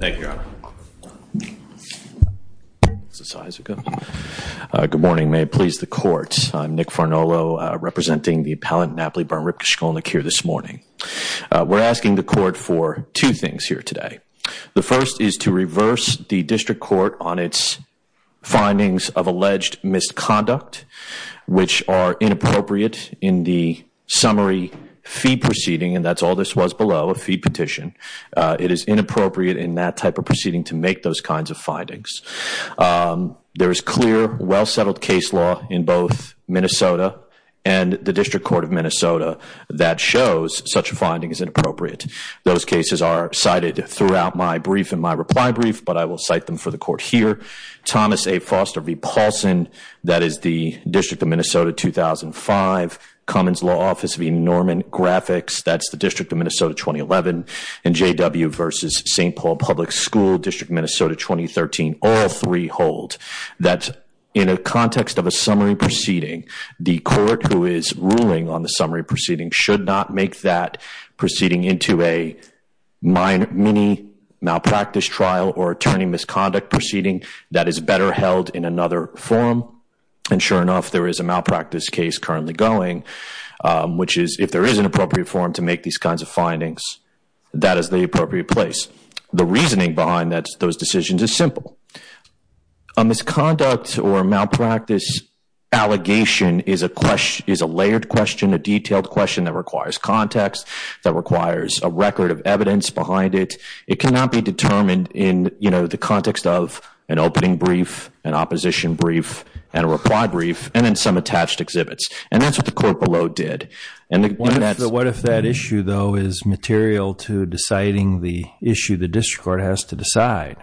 Thank you, Your Honor. Good morning, may it please the court. I'm Nick Farnolo, representing the appellant Napoli Byrne Ripke Shkolnik here this morning. We're asking the court for two things here today. The first is to reverse the district court on its findings of alleged misconduct, which are inappropriate in the summary fee proceeding, and that's all this was below, a fee petition. It is inappropriate in that type of proceeding to make those kinds of findings. There is clear, well-settled case law in both Minnesota and the District Court of Minnesota that shows such a finding is inappropriate. Those cases are cited throughout my brief and my reply brief, but I will cite them for the court here. Thomas A. Foster v. Paulson, that is the District of Minnesota 2005, Cummins Law Office v. Norman Graphics, that's the District of Minnesota 2011, and J.W. v. St. Paul Public School, District of Minnesota 2013, all three hold that in a context of a summary proceeding, the court who is ruling on the summary proceeding should not make that proceeding into a mini malpractice trial or attorney misconduct proceeding. That is better held in another forum, and sure enough, there is a malpractice case currently going, which is if there is an appropriate forum to make these kinds of findings, that is the appropriate place. The reasoning behind those decisions is simple. A misconduct or malpractice allegation is a layered question, a detailed question that requires context, that requires a record of evidence behind it. It cannot be determined in the context of an opening brief, an opposition brief, and a reply brief, and then some attached exhibits, and that's what the court below did. What if that issue, though, is material to deciding the issue the District Court has to decide?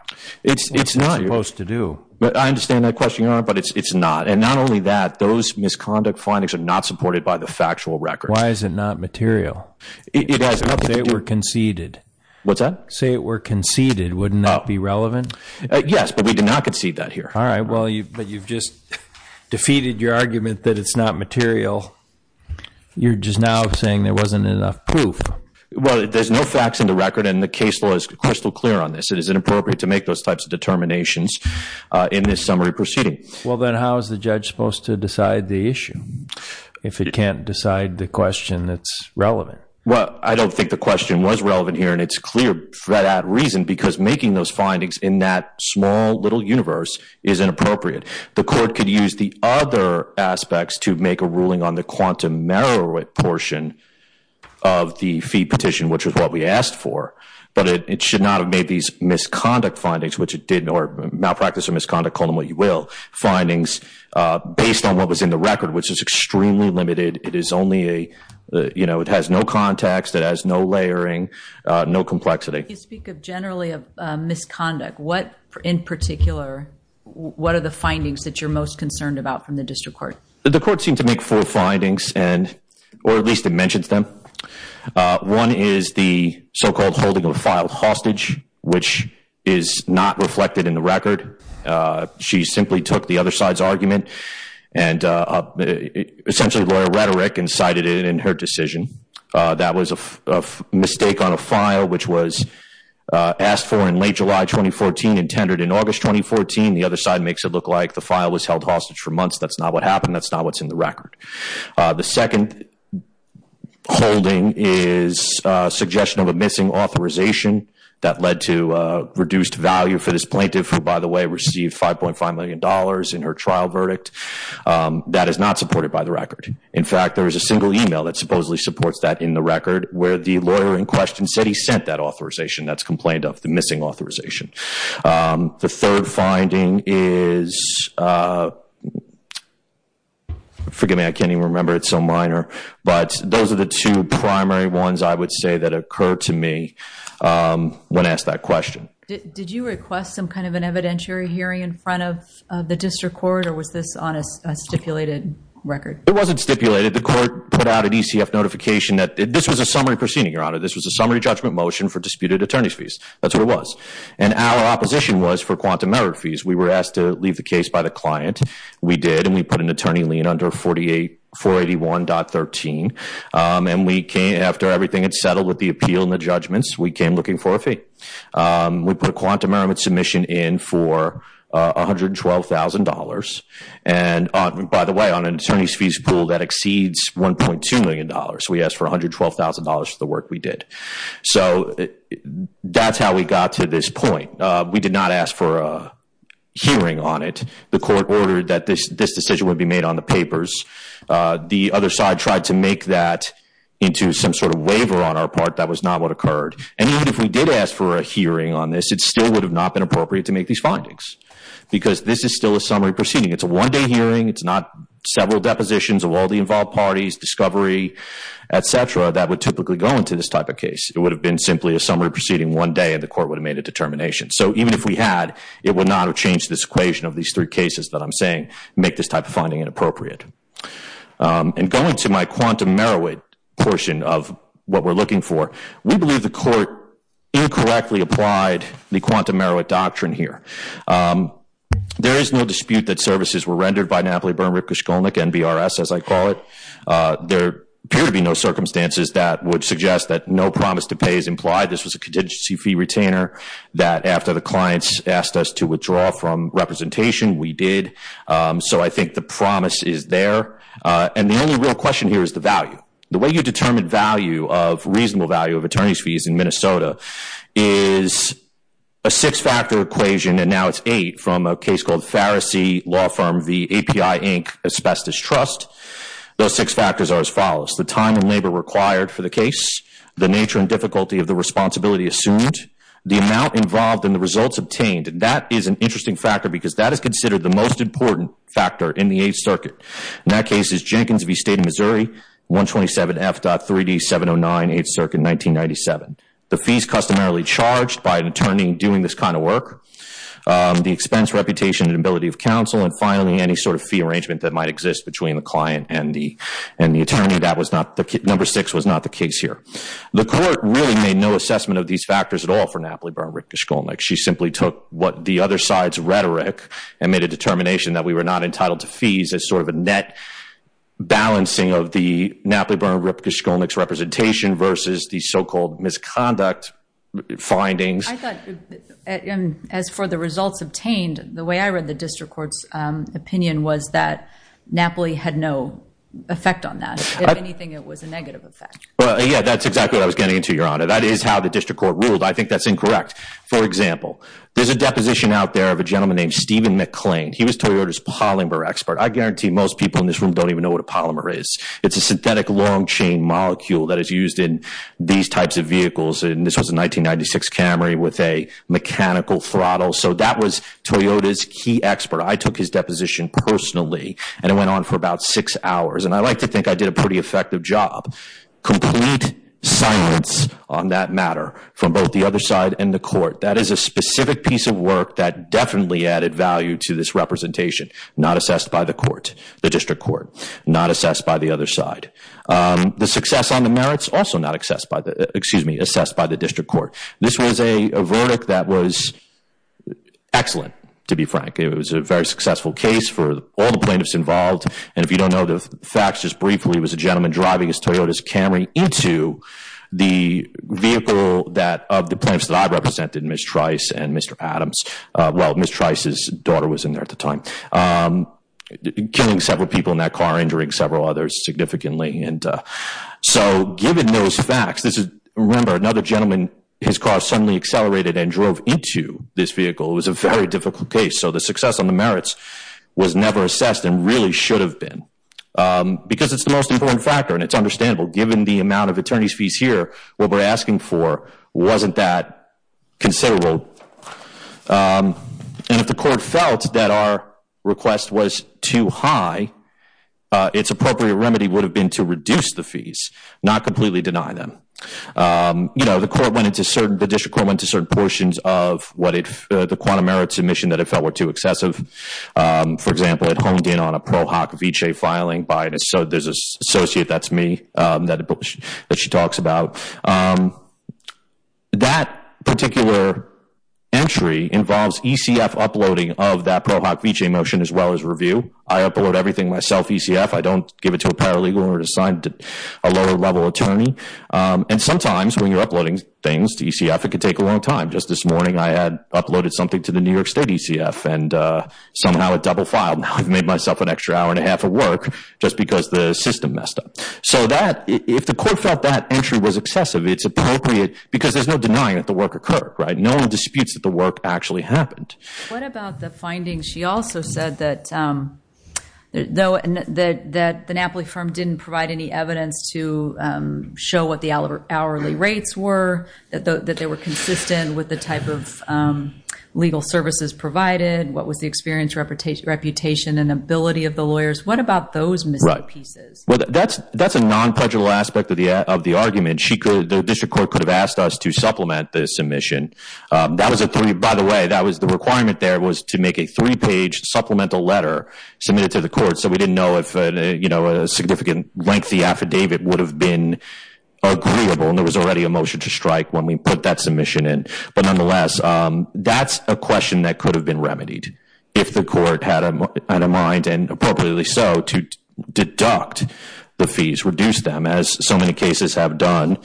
It's not. What is it supposed to do? I understand that question, Your Honor, but it's not. And not only that, those misconduct findings are not supported by the factual record. Why is it not material? It has nothing to do with it. Say it were conceded. What's that? Say it were conceded. Wouldn't that be relevant? Yes, but we did not concede that here. All right, but you've just defeated your argument that it's not material. You're just now saying there wasn't enough proof. Well, there's no facts in the record, and the case law is crystal clear on this. It is inappropriate to make those types of determinations in this summary proceeding. Well, then how is the judge supposed to decide the issue if it can't decide the question that's relevant? Well, I don't think the question was relevant here, and it's clear for that reason, because making those findings in that small little universe is inappropriate. The court could use the other aspects to make a ruling on the quantum merit portion of the fee petition, which is what we asked for, but it should not have made these misconduct findings, or malpractice or misconduct, call them what you will, findings based on what was in the record, which is extremely limited. It has no context. It has no layering, no complexity. You speak generally of misconduct. In particular, what are the findings that you're most concerned about from the district court? The court seemed to make four findings, or at least it mentions them. One is the so-called holding of a filed hostage, which is not reflected in the record. She simply took the other side's argument and essentially lawyer rhetoric and cited it in her decision. That was a mistake on a file, which was asked for in late July 2014 and tendered in August 2014. The other side makes it look like the file was held hostage for months. That's not what happened. That's not what's in the record. The second holding is a suggestion of a missing authorization that led to reduced value for this plaintiff, who, by the way, received $5.5 million in her trial verdict. That is not supported by the record. In fact, there is a single email that supposedly supports that in the record, where the lawyer in question said he sent that authorization that's complained of, the missing authorization. The third finding is, forgive me, I can't even remember, it's so minor, but those are the two primary ones I would say that occurred to me when asked that question. Did you request some kind of an evidentiary hearing in front of the district court, or was this on a stipulated record? It wasn't stipulated. The court put out an ECF notification that this was a summary proceeding, Your Honor. This was a summary judgment motion for disputed attorney's fees. That's what it was. Our opposition was for quantum error fees. We were asked to leave the case by the client. We did, and we put an attorney lien under 481.13. After everything had settled with the appeal and the judgments, we came looking for a fee. We put a quantum error submission in for $112,000. By the way, on an attorney's fees pool, that exceeds $1.2 million. That's how we got to this point. We did not ask for a hearing on it. The court ordered that this decision would be made on the papers. The other side tried to make that into some sort of waiver on our part. That was not what occurred. Even if we did ask for a hearing on this, it still would have not been appropriate to make these findings, because this is still a summary proceeding. It's a one-day hearing. It's not several depositions of all the involved parties, discovery, et cetera, that would typically go into this type of case. It would have been simply a summary proceeding one day, and the court would have made a determination. Even if we had, it would not have changed this equation of these three cases that I'm saying make this type of finding inappropriate. Going to my quantum merit portion of what we're looking for, we believe the court incorrectly applied the quantum merit doctrine here. There is no dispute that services were rendered by Napoli, Burn, Ripke, Shkolnick, NBRS, as I call it. There appear to be no circumstances that would suggest that no promise to pay is implied. This was a contingency fee retainer that, after the clients asked us to withdraw from representation, we did. I think the promise is there. The only real question here is the value. The way you determine value of reasonable value of attorney's fees in Minnesota is a six-factor equation, and now it's eight from a case called Pharisee Law Firm v. API, Inc. Asbestos Trust. Those six factors are as follows. The time and labor required for the case, the nature and difficulty of the responsibility assumed, the amount involved, and the results obtained. That is an interesting factor because that is considered the most important factor in the Eighth Circuit. In that case, it's Jenkins v. State of Missouri, 127F.3D709, Eighth Circuit, 1997. The fees customarily charged by an attorney doing this kind of work, the expense, reputation, and ability of counsel, and finally, any sort of fee arrangement that might exist between the client and the attorney. Number six was not the case here. The court really made no assessment of these factors at all for Napoli, Burn, Ripke, Shkolnick. She simply took what the other side's rhetoric and made a determination that we were not entitled to fees as sort of a net balancing of the Napoli, Burn, Ripke, Shkolnick's representation versus the so-called misconduct findings. I thought, as for the results obtained, the way I read the district court's opinion was that Napoli had no effect on that. If anything, it was a negative effect. Yeah, that's exactly what I was getting into, Your Honor. That is how the district court ruled. I think that's incorrect. For example, there's a deposition out there of a gentleman named Stephen McClain. He was Toyota's polymer expert. I guarantee most people in this room don't even know what a polymer is. It's a synthetic long-chain molecule that is used in these types of vehicles. And this was a 1996 Camry with a mechanical throttle. So that was Toyota's key expert. I took his deposition personally, and it went on for about six hours. And I like to think I did a pretty effective job. Complete silence on that matter from both the other side and the court. That is a specific piece of work that definitely added value to this representation. Not assessed by the court, the district court. Not assessed by the other side. The success on the merits, also not assessed by the district court. This was a verdict that was excellent, to be frank. It was a very successful case for all the plaintiffs involved. And if you don't know the facts, just briefly, it was a gentleman driving his Toyota's Camry into the vehicle that, of the plaintiffs that I represented, Ms. Trice and Mr. Adams. Well, Ms. Trice's daughter was in there at the time. Killing several people in that car, injuring several others significantly. And so, given those facts, this is, remember, another gentleman, his car suddenly accelerated and drove into this vehicle. It was a very difficult case. So the success on the merits was never assessed and really should have been. Because it's the most important factor and it's understandable. Given the amount of attorney's fees here, what we're asking for wasn't that considerable. And if the court felt that our request was too high, its appropriate remedy would have been to reduce the fees, not completely deny them. You know, the court went into certain, the district court went into certain portions of what it, the quantum merits submission that it felt were too excessive. For example, it honed in on a Pro Hoc Veche filing. So there's this associate, that's me, that she talks about. That particular entry involves ECF uploading of that Pro Hoc Veche motion as well as review. I upload everything myself, ECF. I don't give it to a paralegal or assign it to a lower level attorney. And sometimes when you're uploading things to ECF, it can take a long time. Just this morning I had uploaded something to the New York State ECF and somehow it double filed. Now I've made myself an extra hour and a half of work just because the system messed up. So that, if the court felt that entry was excessive, it's appropriate. Because there's no denying that the work occurred, right? No one disputes that the work actually happened. What about the findings? She also said that the Napoli firm didn't provide any evidence to show what the hourly rates were, that they were consistent with the type of legal services provided, what was the experience, reputation, and ability of the lawyers. What about those missing pieces? Well, that's a non-pledgable aspect of the argument. The district court could have asked us to supplement the submission. By the way, the requirement there was to make a three-page supplemental letter submitted to the court so we didn't know if a significant lengthy affidavit would have been agreeable. And there was already a motion to strike when we put that submission in. But nonetheless, that's a question that could have been remedied if the court had a mind, and appropriately so, to deduct the fees, reduce them, as so many cases have done,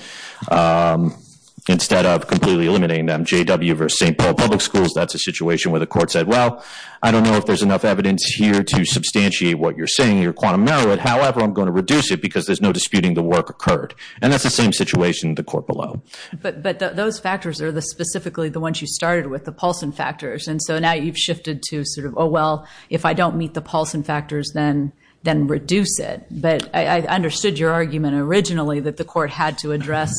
instead of completely eliminating them. J.W. versus St. Paul Public Schools, that's a situation where the court said, well, I don't know if there's enough evidence here to substantiate what you're saying. You're quantum narrow it. However, I'm going to reduce it because there's no disputing the work occurred. And that's the same situation in the court below. But those factors are specifically the ones you started with, the Paulson factors. And so now you've shifted to sort of, oh, well, if I don't meet the Paulson factors, then reduce it. But I understood your argument originally that the court had to address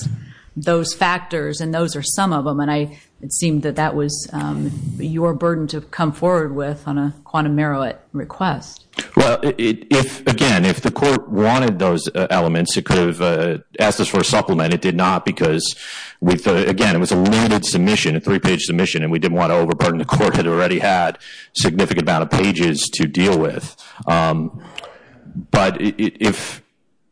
those factors, and those are some of them. And it seemed that that was your burden to come forward with on a quantum narrow it request. Well, again, if the court wanted those elements, it could have asked us for a supplement. It did not because, again, it was a limited submission, a three-page submission, and we didn't want to overburden the court. It had already had a significant amount of pages to deal with. But if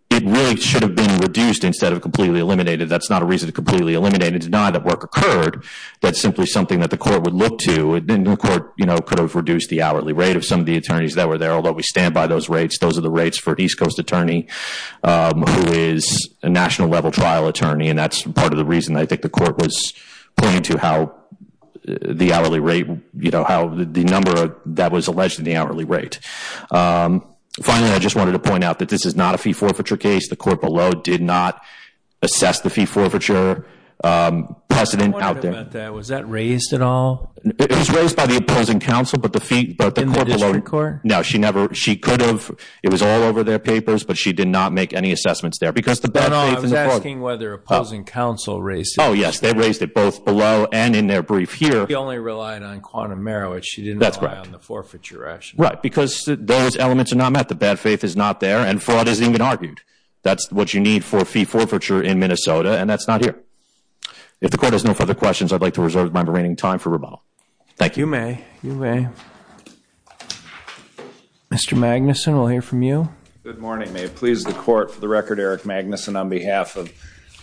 it really should have been reduced instead of completely eliminated, that's not a reason to completely eliminate it. It's not that work occurred. That's simply something that the court would look to. And the court could have reduced the hourly rate of some of the attorneys that were there, although we stand by those rates. Those are the rates for an East Coast attorney who is a national-level trial attorney, and that's part of the reason I think the court was pointing to how the hourly rate, the number that was alleged in the hourly rate. Finally, I just wanted to point out that this is not a fee forfeiture case. The court below did not assess the fee forfeiture precedent out there. I'm wondering about that. Was that raised at all? It was raised by the opposing counsel, but the court below. In the district court? No. She could have. It was all over their papers, but she did not make any assessments there. No, no. I was asking whether opposing counsel raised it. Oh, yes. They raised it both below and in their brief here. She only relied on quantum merit. She didn't rely on the forfeiture rationale. Right, because those elements are not met. The bad faith is not there, and fraud isn't even argued. That's what you need for a fee forfeiture in Minnesota, and that's not here. If the court has no further questions, I'd like to reserve my remaining time for rebuttal. Thank you. You may. You may. Mr. Magnuson, we'll hear from you. Good morning. May it please the Court. For the record, Eric Magnuson, on behalf of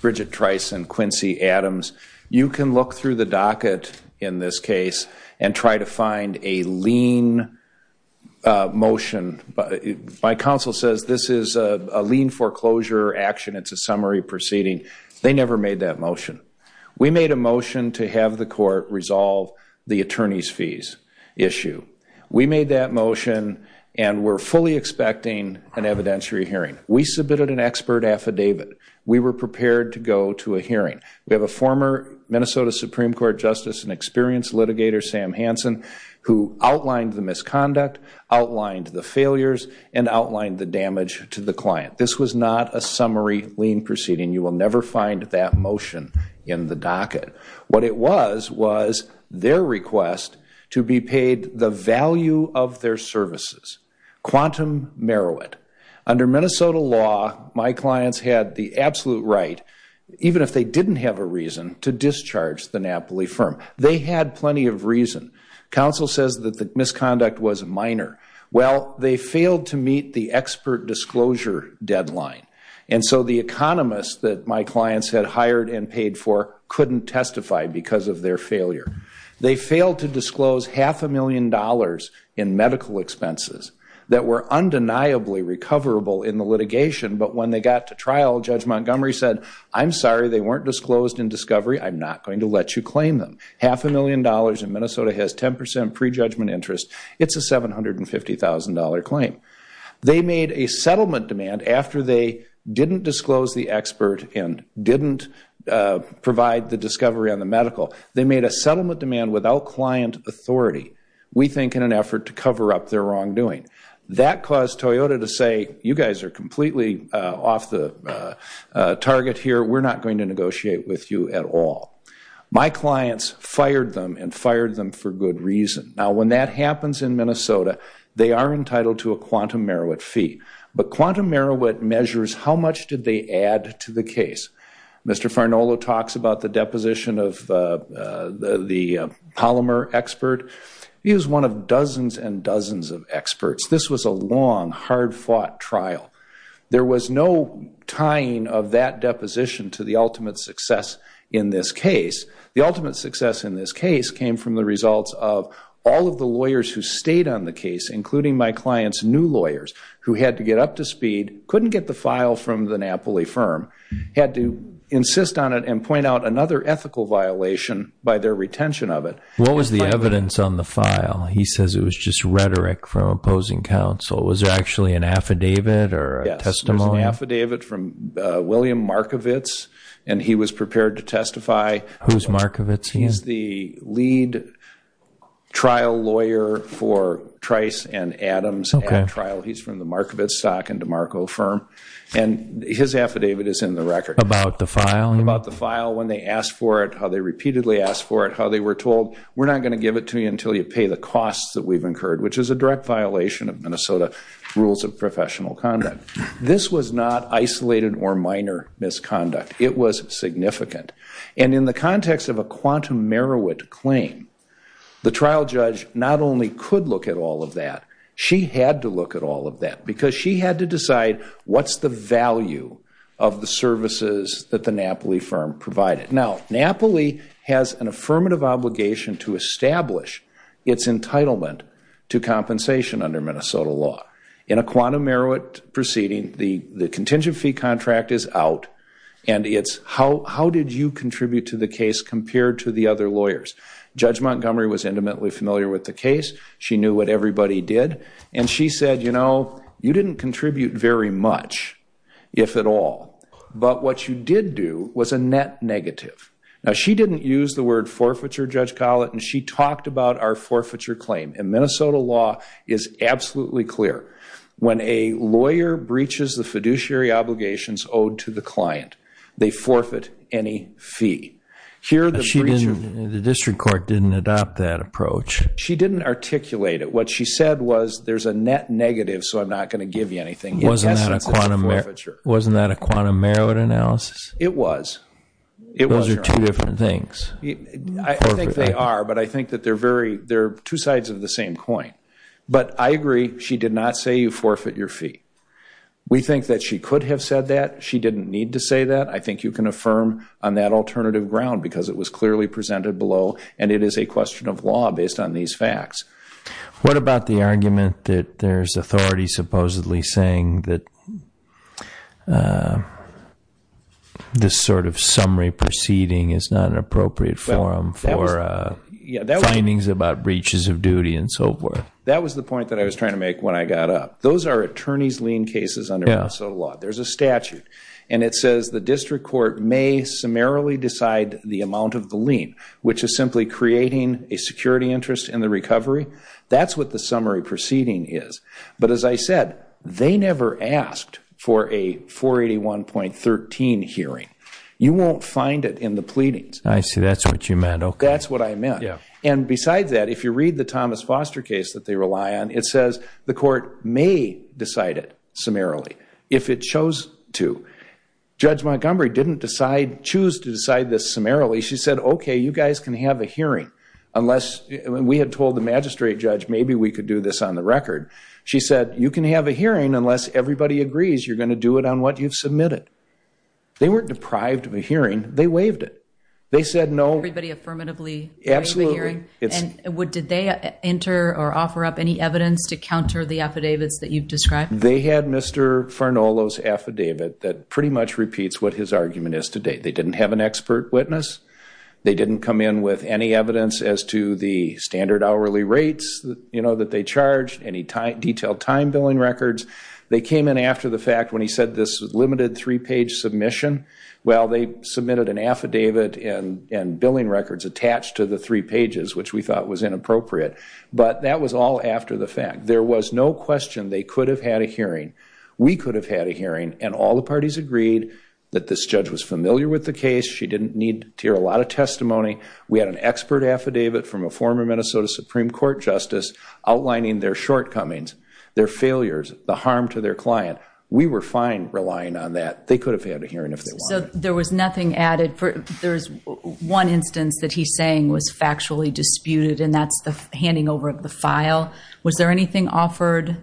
Bridget Trice and Quincy Adams, you can look through the docket in this case and try to find a lien motion. My counsel says this is a lien foreclosure action. It's a summary proceeding. They never made that motion. We made a motion to have the court resolve the attorney's fees issue. We made that motion, and we're fully expecting an evidentiary hearing. We submitted an expert affidavit. We were prepared to go to a hearing. We have a former Minnesota Supreme Court justice and experienced litigator, Sam Hansen, who outlined the misconduct, outlined the failures, and outlined the damage to the client. This was not a summary lien proceeding. You will never find that motion in the docket. What it was was their request to be paid the value of their services, quantum merit. Under Minnesota law, my clients had the absolute right, even if they didn't have a reason, to discharge the Napoli firm. They had plenty of reason. Counsel says that the misconduct was minor. Well, they failed to meet the expert disclosure deadline, and so the economist that my clients had hired and paid for couldn't testify because of their failure. They failed to disclose half a million dollars in medical expenses that were undeniably recoverable in the litigation, but when they got to trial, Judge Montgomery said, I'm sorry, they weren't disclosed in discovery. I'm not going to let you claim them. Half a million dollars in Minnesota has 10% prejudgment interest. It's a $750,000 claim. They made a settlement demand after they didn't disclose the expert and didn't provide the discovery on the medical. They made a settlement demand without client authority, we think in an effort to cover up their wrongdoing. That caused Toyota to say, you guys are completely off the target here. We're not going to negotiate with you at all. My clients fired them and fired them for good reason. Now, when that happens in Minnesota, they are entitled to a quantum Merowit fee, but quantum Merowit measures how much did they add to the case. Mr. Farnolo talks about the deposition of the polymer expert. He was one of dozens and dozens of experts. This was a long, hard-fought trial. There was no tying of that deposition to the ultimate success in this case. The ultimate success in this case came from the results of all of the lawyers who stayed on the case, including my client's new lawyers, who had to get up to speed, couldn't get the file from the Napoli firm, had to insist on it and point out another ethical violation by their retention of it. What was the evidence on the file? He says it was just rhetoric from opposing counsel. Was there actually an affidavit or a testimony? Yes, there was an affidavit from William Markovits, and he was prepared to testify. Who's Markovits? He's the lead trial lawyer for Trice and Adams at trial. He's from the Markovits stock and DeMarco firm. And his affidavit is in the record. About the file? About the file, when they asked for it, how they repeatedly asked for it, how they were told, we're not going to give it to you until you pay the costs that we've incurred, which is a direct violation of Minnesota rules of professional conduct. This was not isolated or minor misconduct. It was significant. And in the context of a quantum Merowit claim, the trial judge not only could look at all of that, she had to look at all of that because she had to decide what's the value of the services that the Napoli firm provided. Now, Napoli has an affirmative obligation to establish its entitlement to compensation under Minnesota law. In a quantum Merowit proceeding, the contingent fee contract is out, and it's how did you contribute to the case compared to the other lawyers. Judge Montgomery was intimately familiar with the case. She knew what everybody did. And she said, you know, you didn't contribute very much, if at all. But what you did do was a net negative. Now, she didn't use the word forfeiture, Judge Collett, and she talked about our forfeiture claim. And Minnesota law is absolutely clear. When a lawyer breaches the fiduciary obligations owed to the client, they forfeit any fee. The district court didn't adopt that approach. She didn't articulate it. What she said was there's a net negative, so I'm not going to give you anything. Wasn't that a quantum Merowit analysis? It was. Those are two different things. I think they are, but I think that they're two sides of the same coin. But I agree she did not say you forfeit your fee. We think that she could have said that. She didn't need to say that. I think you can affirm on that alternative ground because it was clearly presented below, and it is a question of law based on these facts. What about the argument that there's authority supposedly saying that this sort of summary proceeding is not an appropriate forum for findings about breaches of duty and so forth? That was the point that I was trying to make when I got up. Those are attorney's lien cases under Minnesota law. There's a statute, and it says the district court may summarily decide the amount of the lien, which is simply creating a security interest in the recovery. That's what the summary proceeding is. But as I said, they never asked for a 481.13 hearing. You won't find it in the pleadings. I see. That's what you meant. That's what I meant. And besides that, if you read the Thomas Foster case that they rely on, it says the court may decide it summarily if it chose to. Judge Montgomery didn't choose to decide this summarily. She said, okay, you guys can have a hearing. We had told the magistrate judge maybe we could do this on the record. She said, you can have a hearing unless everybody agrees you're going to do it on what you've submitted. They weren't deprived of a hearing. They waived it. They said no. Everybody affirmatively waived the hearing? Absolutely. Did they enter or offer up any evidence to counter the affidavits that you've described? They had Mr. Farnolo's affidavit that pretty much repeats what his argument is today. They didn't have an expert witness. They didn't come in with any evidence as to the standard hourly rates that they charged, any detailed time billing records. They came in after the fact when he said this was a limited three-page submission. Well, they submitted an affidavit and billing records attached to the three pages, which we thought was inappropriate. But that was all after the fact. There was no question they could have had a hearing. We could have had a hearing, and all the parties agreed that this judge was familiar with the case. She didn't need to hear a lot of testimony. We had an expert affidavit from a former Minnesota Supreme Court justice outlining their shortcomings, their failures, the harm to their client. We were fine relying on that. They could have had a hearing if they wanted. So there was nothing added? There's one instance that he's saying was factually disputed, and that's the handing over of the file. Was there anything offered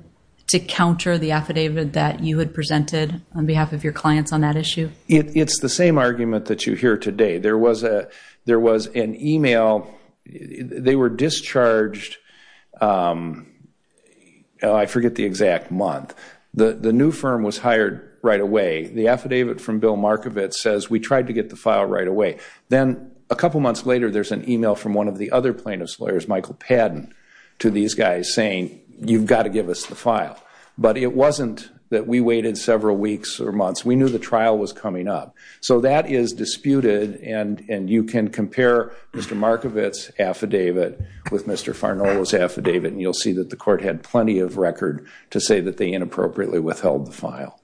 to counter the affidavit that you had presented on behalf of your clients on that issue? It's the same argument that you hear today. There was an e-mail. They were discharged, I forget the exact month. The new firm was hired right away. The affidavit from Bill Markovitz says, we tried to get the file right away. Then a couple months later there's an e-mail from one of the other plaintiff's lawyers, Michael Padden, to these guys saying, you've got to give us the file. But it wasn't that we waited several weeks or months. We knew the trial was coming up. So that is disputed, and you can compare Mr. Markovitz's affidavit with Mr. Farnolo's affidavit, and you'll see that the court had plenty of record to say that they inappropriately withheld the file.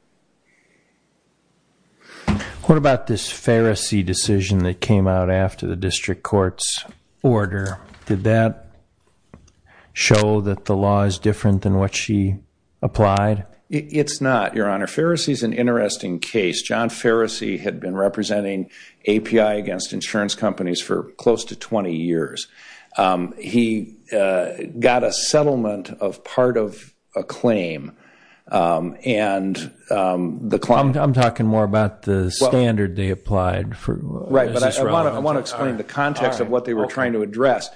What about this Farisi decision that came out after the district court's order? Did that show that the law is different than what she applied? It's not, Your Honor. Farisi is an interesting case. John Farisi had been representing API against insurance companies for close to 20 years. He got a settlement of part of a claim. I'm talking more about the standard they applied. Right, but I want to explain the context of what they were trying to address.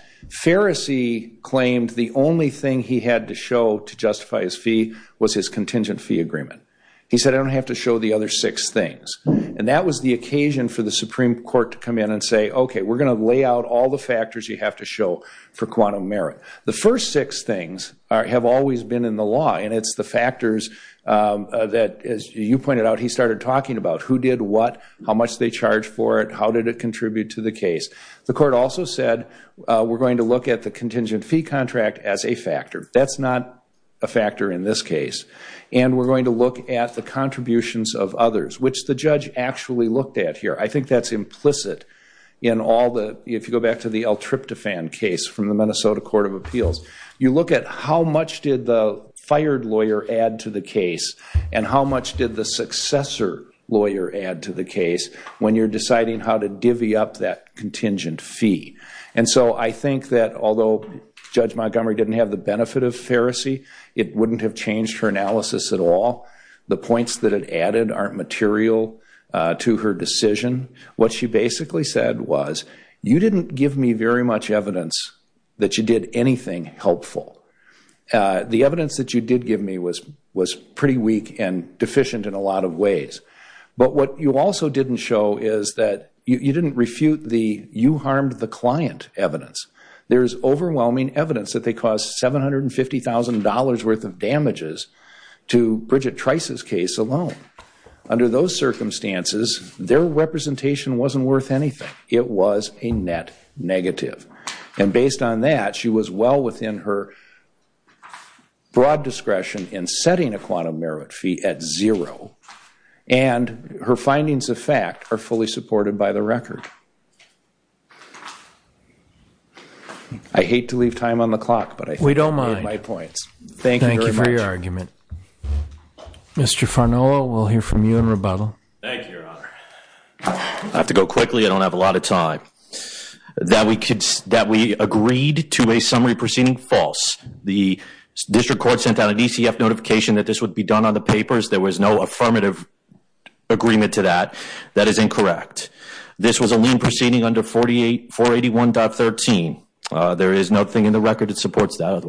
Farisi claimed the only thing he had to show to justify his fee was his He said, I don't have to show the other six things. And that was the occasion for the Supreme Court to come in and say, okay, we're going to lay out all the factors you have to show for quantum merit. The first six things have always been in the law, and it's the factors that, as you pointed out, he started talking about. Who did what? How much did they charge for it? How did it contribute to the case? The court also said, we're going to look at the contingent fee contract as a factor. That's not a factor in this case. And we're going to look at the contributions of others, which the judge actually looked at here. I think that's implicit in all the, if you go back to the El Triptofan case from the Minnesota Court of Appeals, you look at how much did the fired lawyer add to the case and how much did the successor lawyer add to the case when you're deciding how to divvy up that contingent fee. And so I think that although Judge Montgomery didn't have the benefit of Farisi, it wouldn't have changed her analysis at all. The points that it added aren't material to her decision. What she basically said was, you didn't give me very much evidence that you did anything helpful. The evidence that you did give me was pretty weak and deficient in a lot of ways. But what you also didn't show is that you didn't refute the you harmed the client evidence. There is overwhelming evidence that they caused $750,000 worth of damages to Bridget Trice's case alone. Under those circumstances, their representation wasn't worth anything. It was a net negative. And based on that, she was well within her broad discretion in setting a quantum merit fee at zero. And her findings of fact are fully supported by the record. I hate to leave time on the clock, but I think I made my points. We don't mind. Thank you very much. Thank you for your argument. Mr. Farnoa, we'll hear from you in rebuttal. Thank you, Your Honor. I have to go quickly. I don't have a lot of time. That we agreed to a summary proceeding, false. The district court sent out a DCF notification that this would be done on the papers. There was no affirmative agreement to that. That is incorrect. This was a lien proceeding under 481.13. There is nothing in the record that supports that.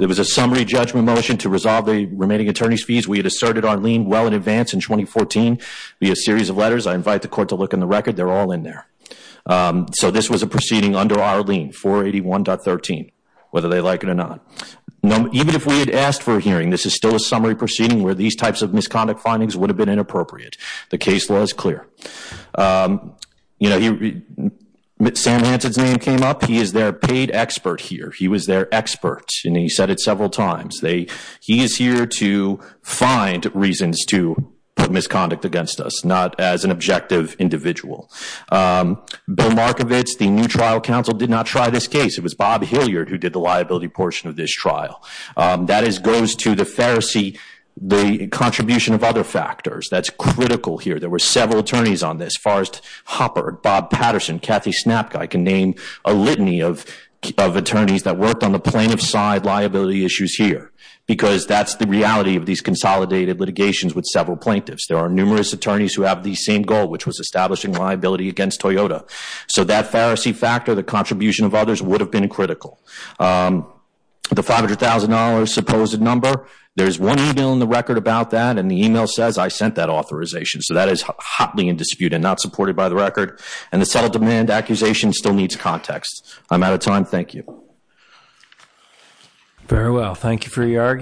It was a summary judgment motion to resolve the remaining attorney's fees. We had asserted our lien well in advance in 2014 via a series of letters. I invite the court to look in the record. They're all in there. So this was a proceeding under our lien, 481.13, whether they like it or not. Even if we had asked for a hearing, this is still a summary proceeding where these types of misconduct findings would have been inappropriate. The case law is clear. Sam Hansen's name came up. He is their paid expert here. He was their expert, and he said it several times. He is here to find reasons to put misconduct against us, not as an objective individual. Bill Markovitz, the new trial counsel, did not try this case. It was Bob Hilliard who did the liability portion of this trial. That goes to the Pharisee, the contribution of other factors. That's critical here. There were several attorneys on this. Forrest Hopper, Bob Patterson, Kathy Snapguy can name a litany of attorneys that worked on the plaintiff's side liability issues here because that's the reality of these consolidated litigations with several plaintiffs. There are numerous attorneys who have the same goal, which was establishing liability against Toyota. So that Pharisee factor, the contribution of others, would have been critical. The $500,000 supposed number, there is one email in the record about that, and the email says I sent that authorization. So that is hotly in dispute and not supported by the record. And the settled demand accusation still needs context. I'm out of time. Thank you. Very well. Thank you for your argument.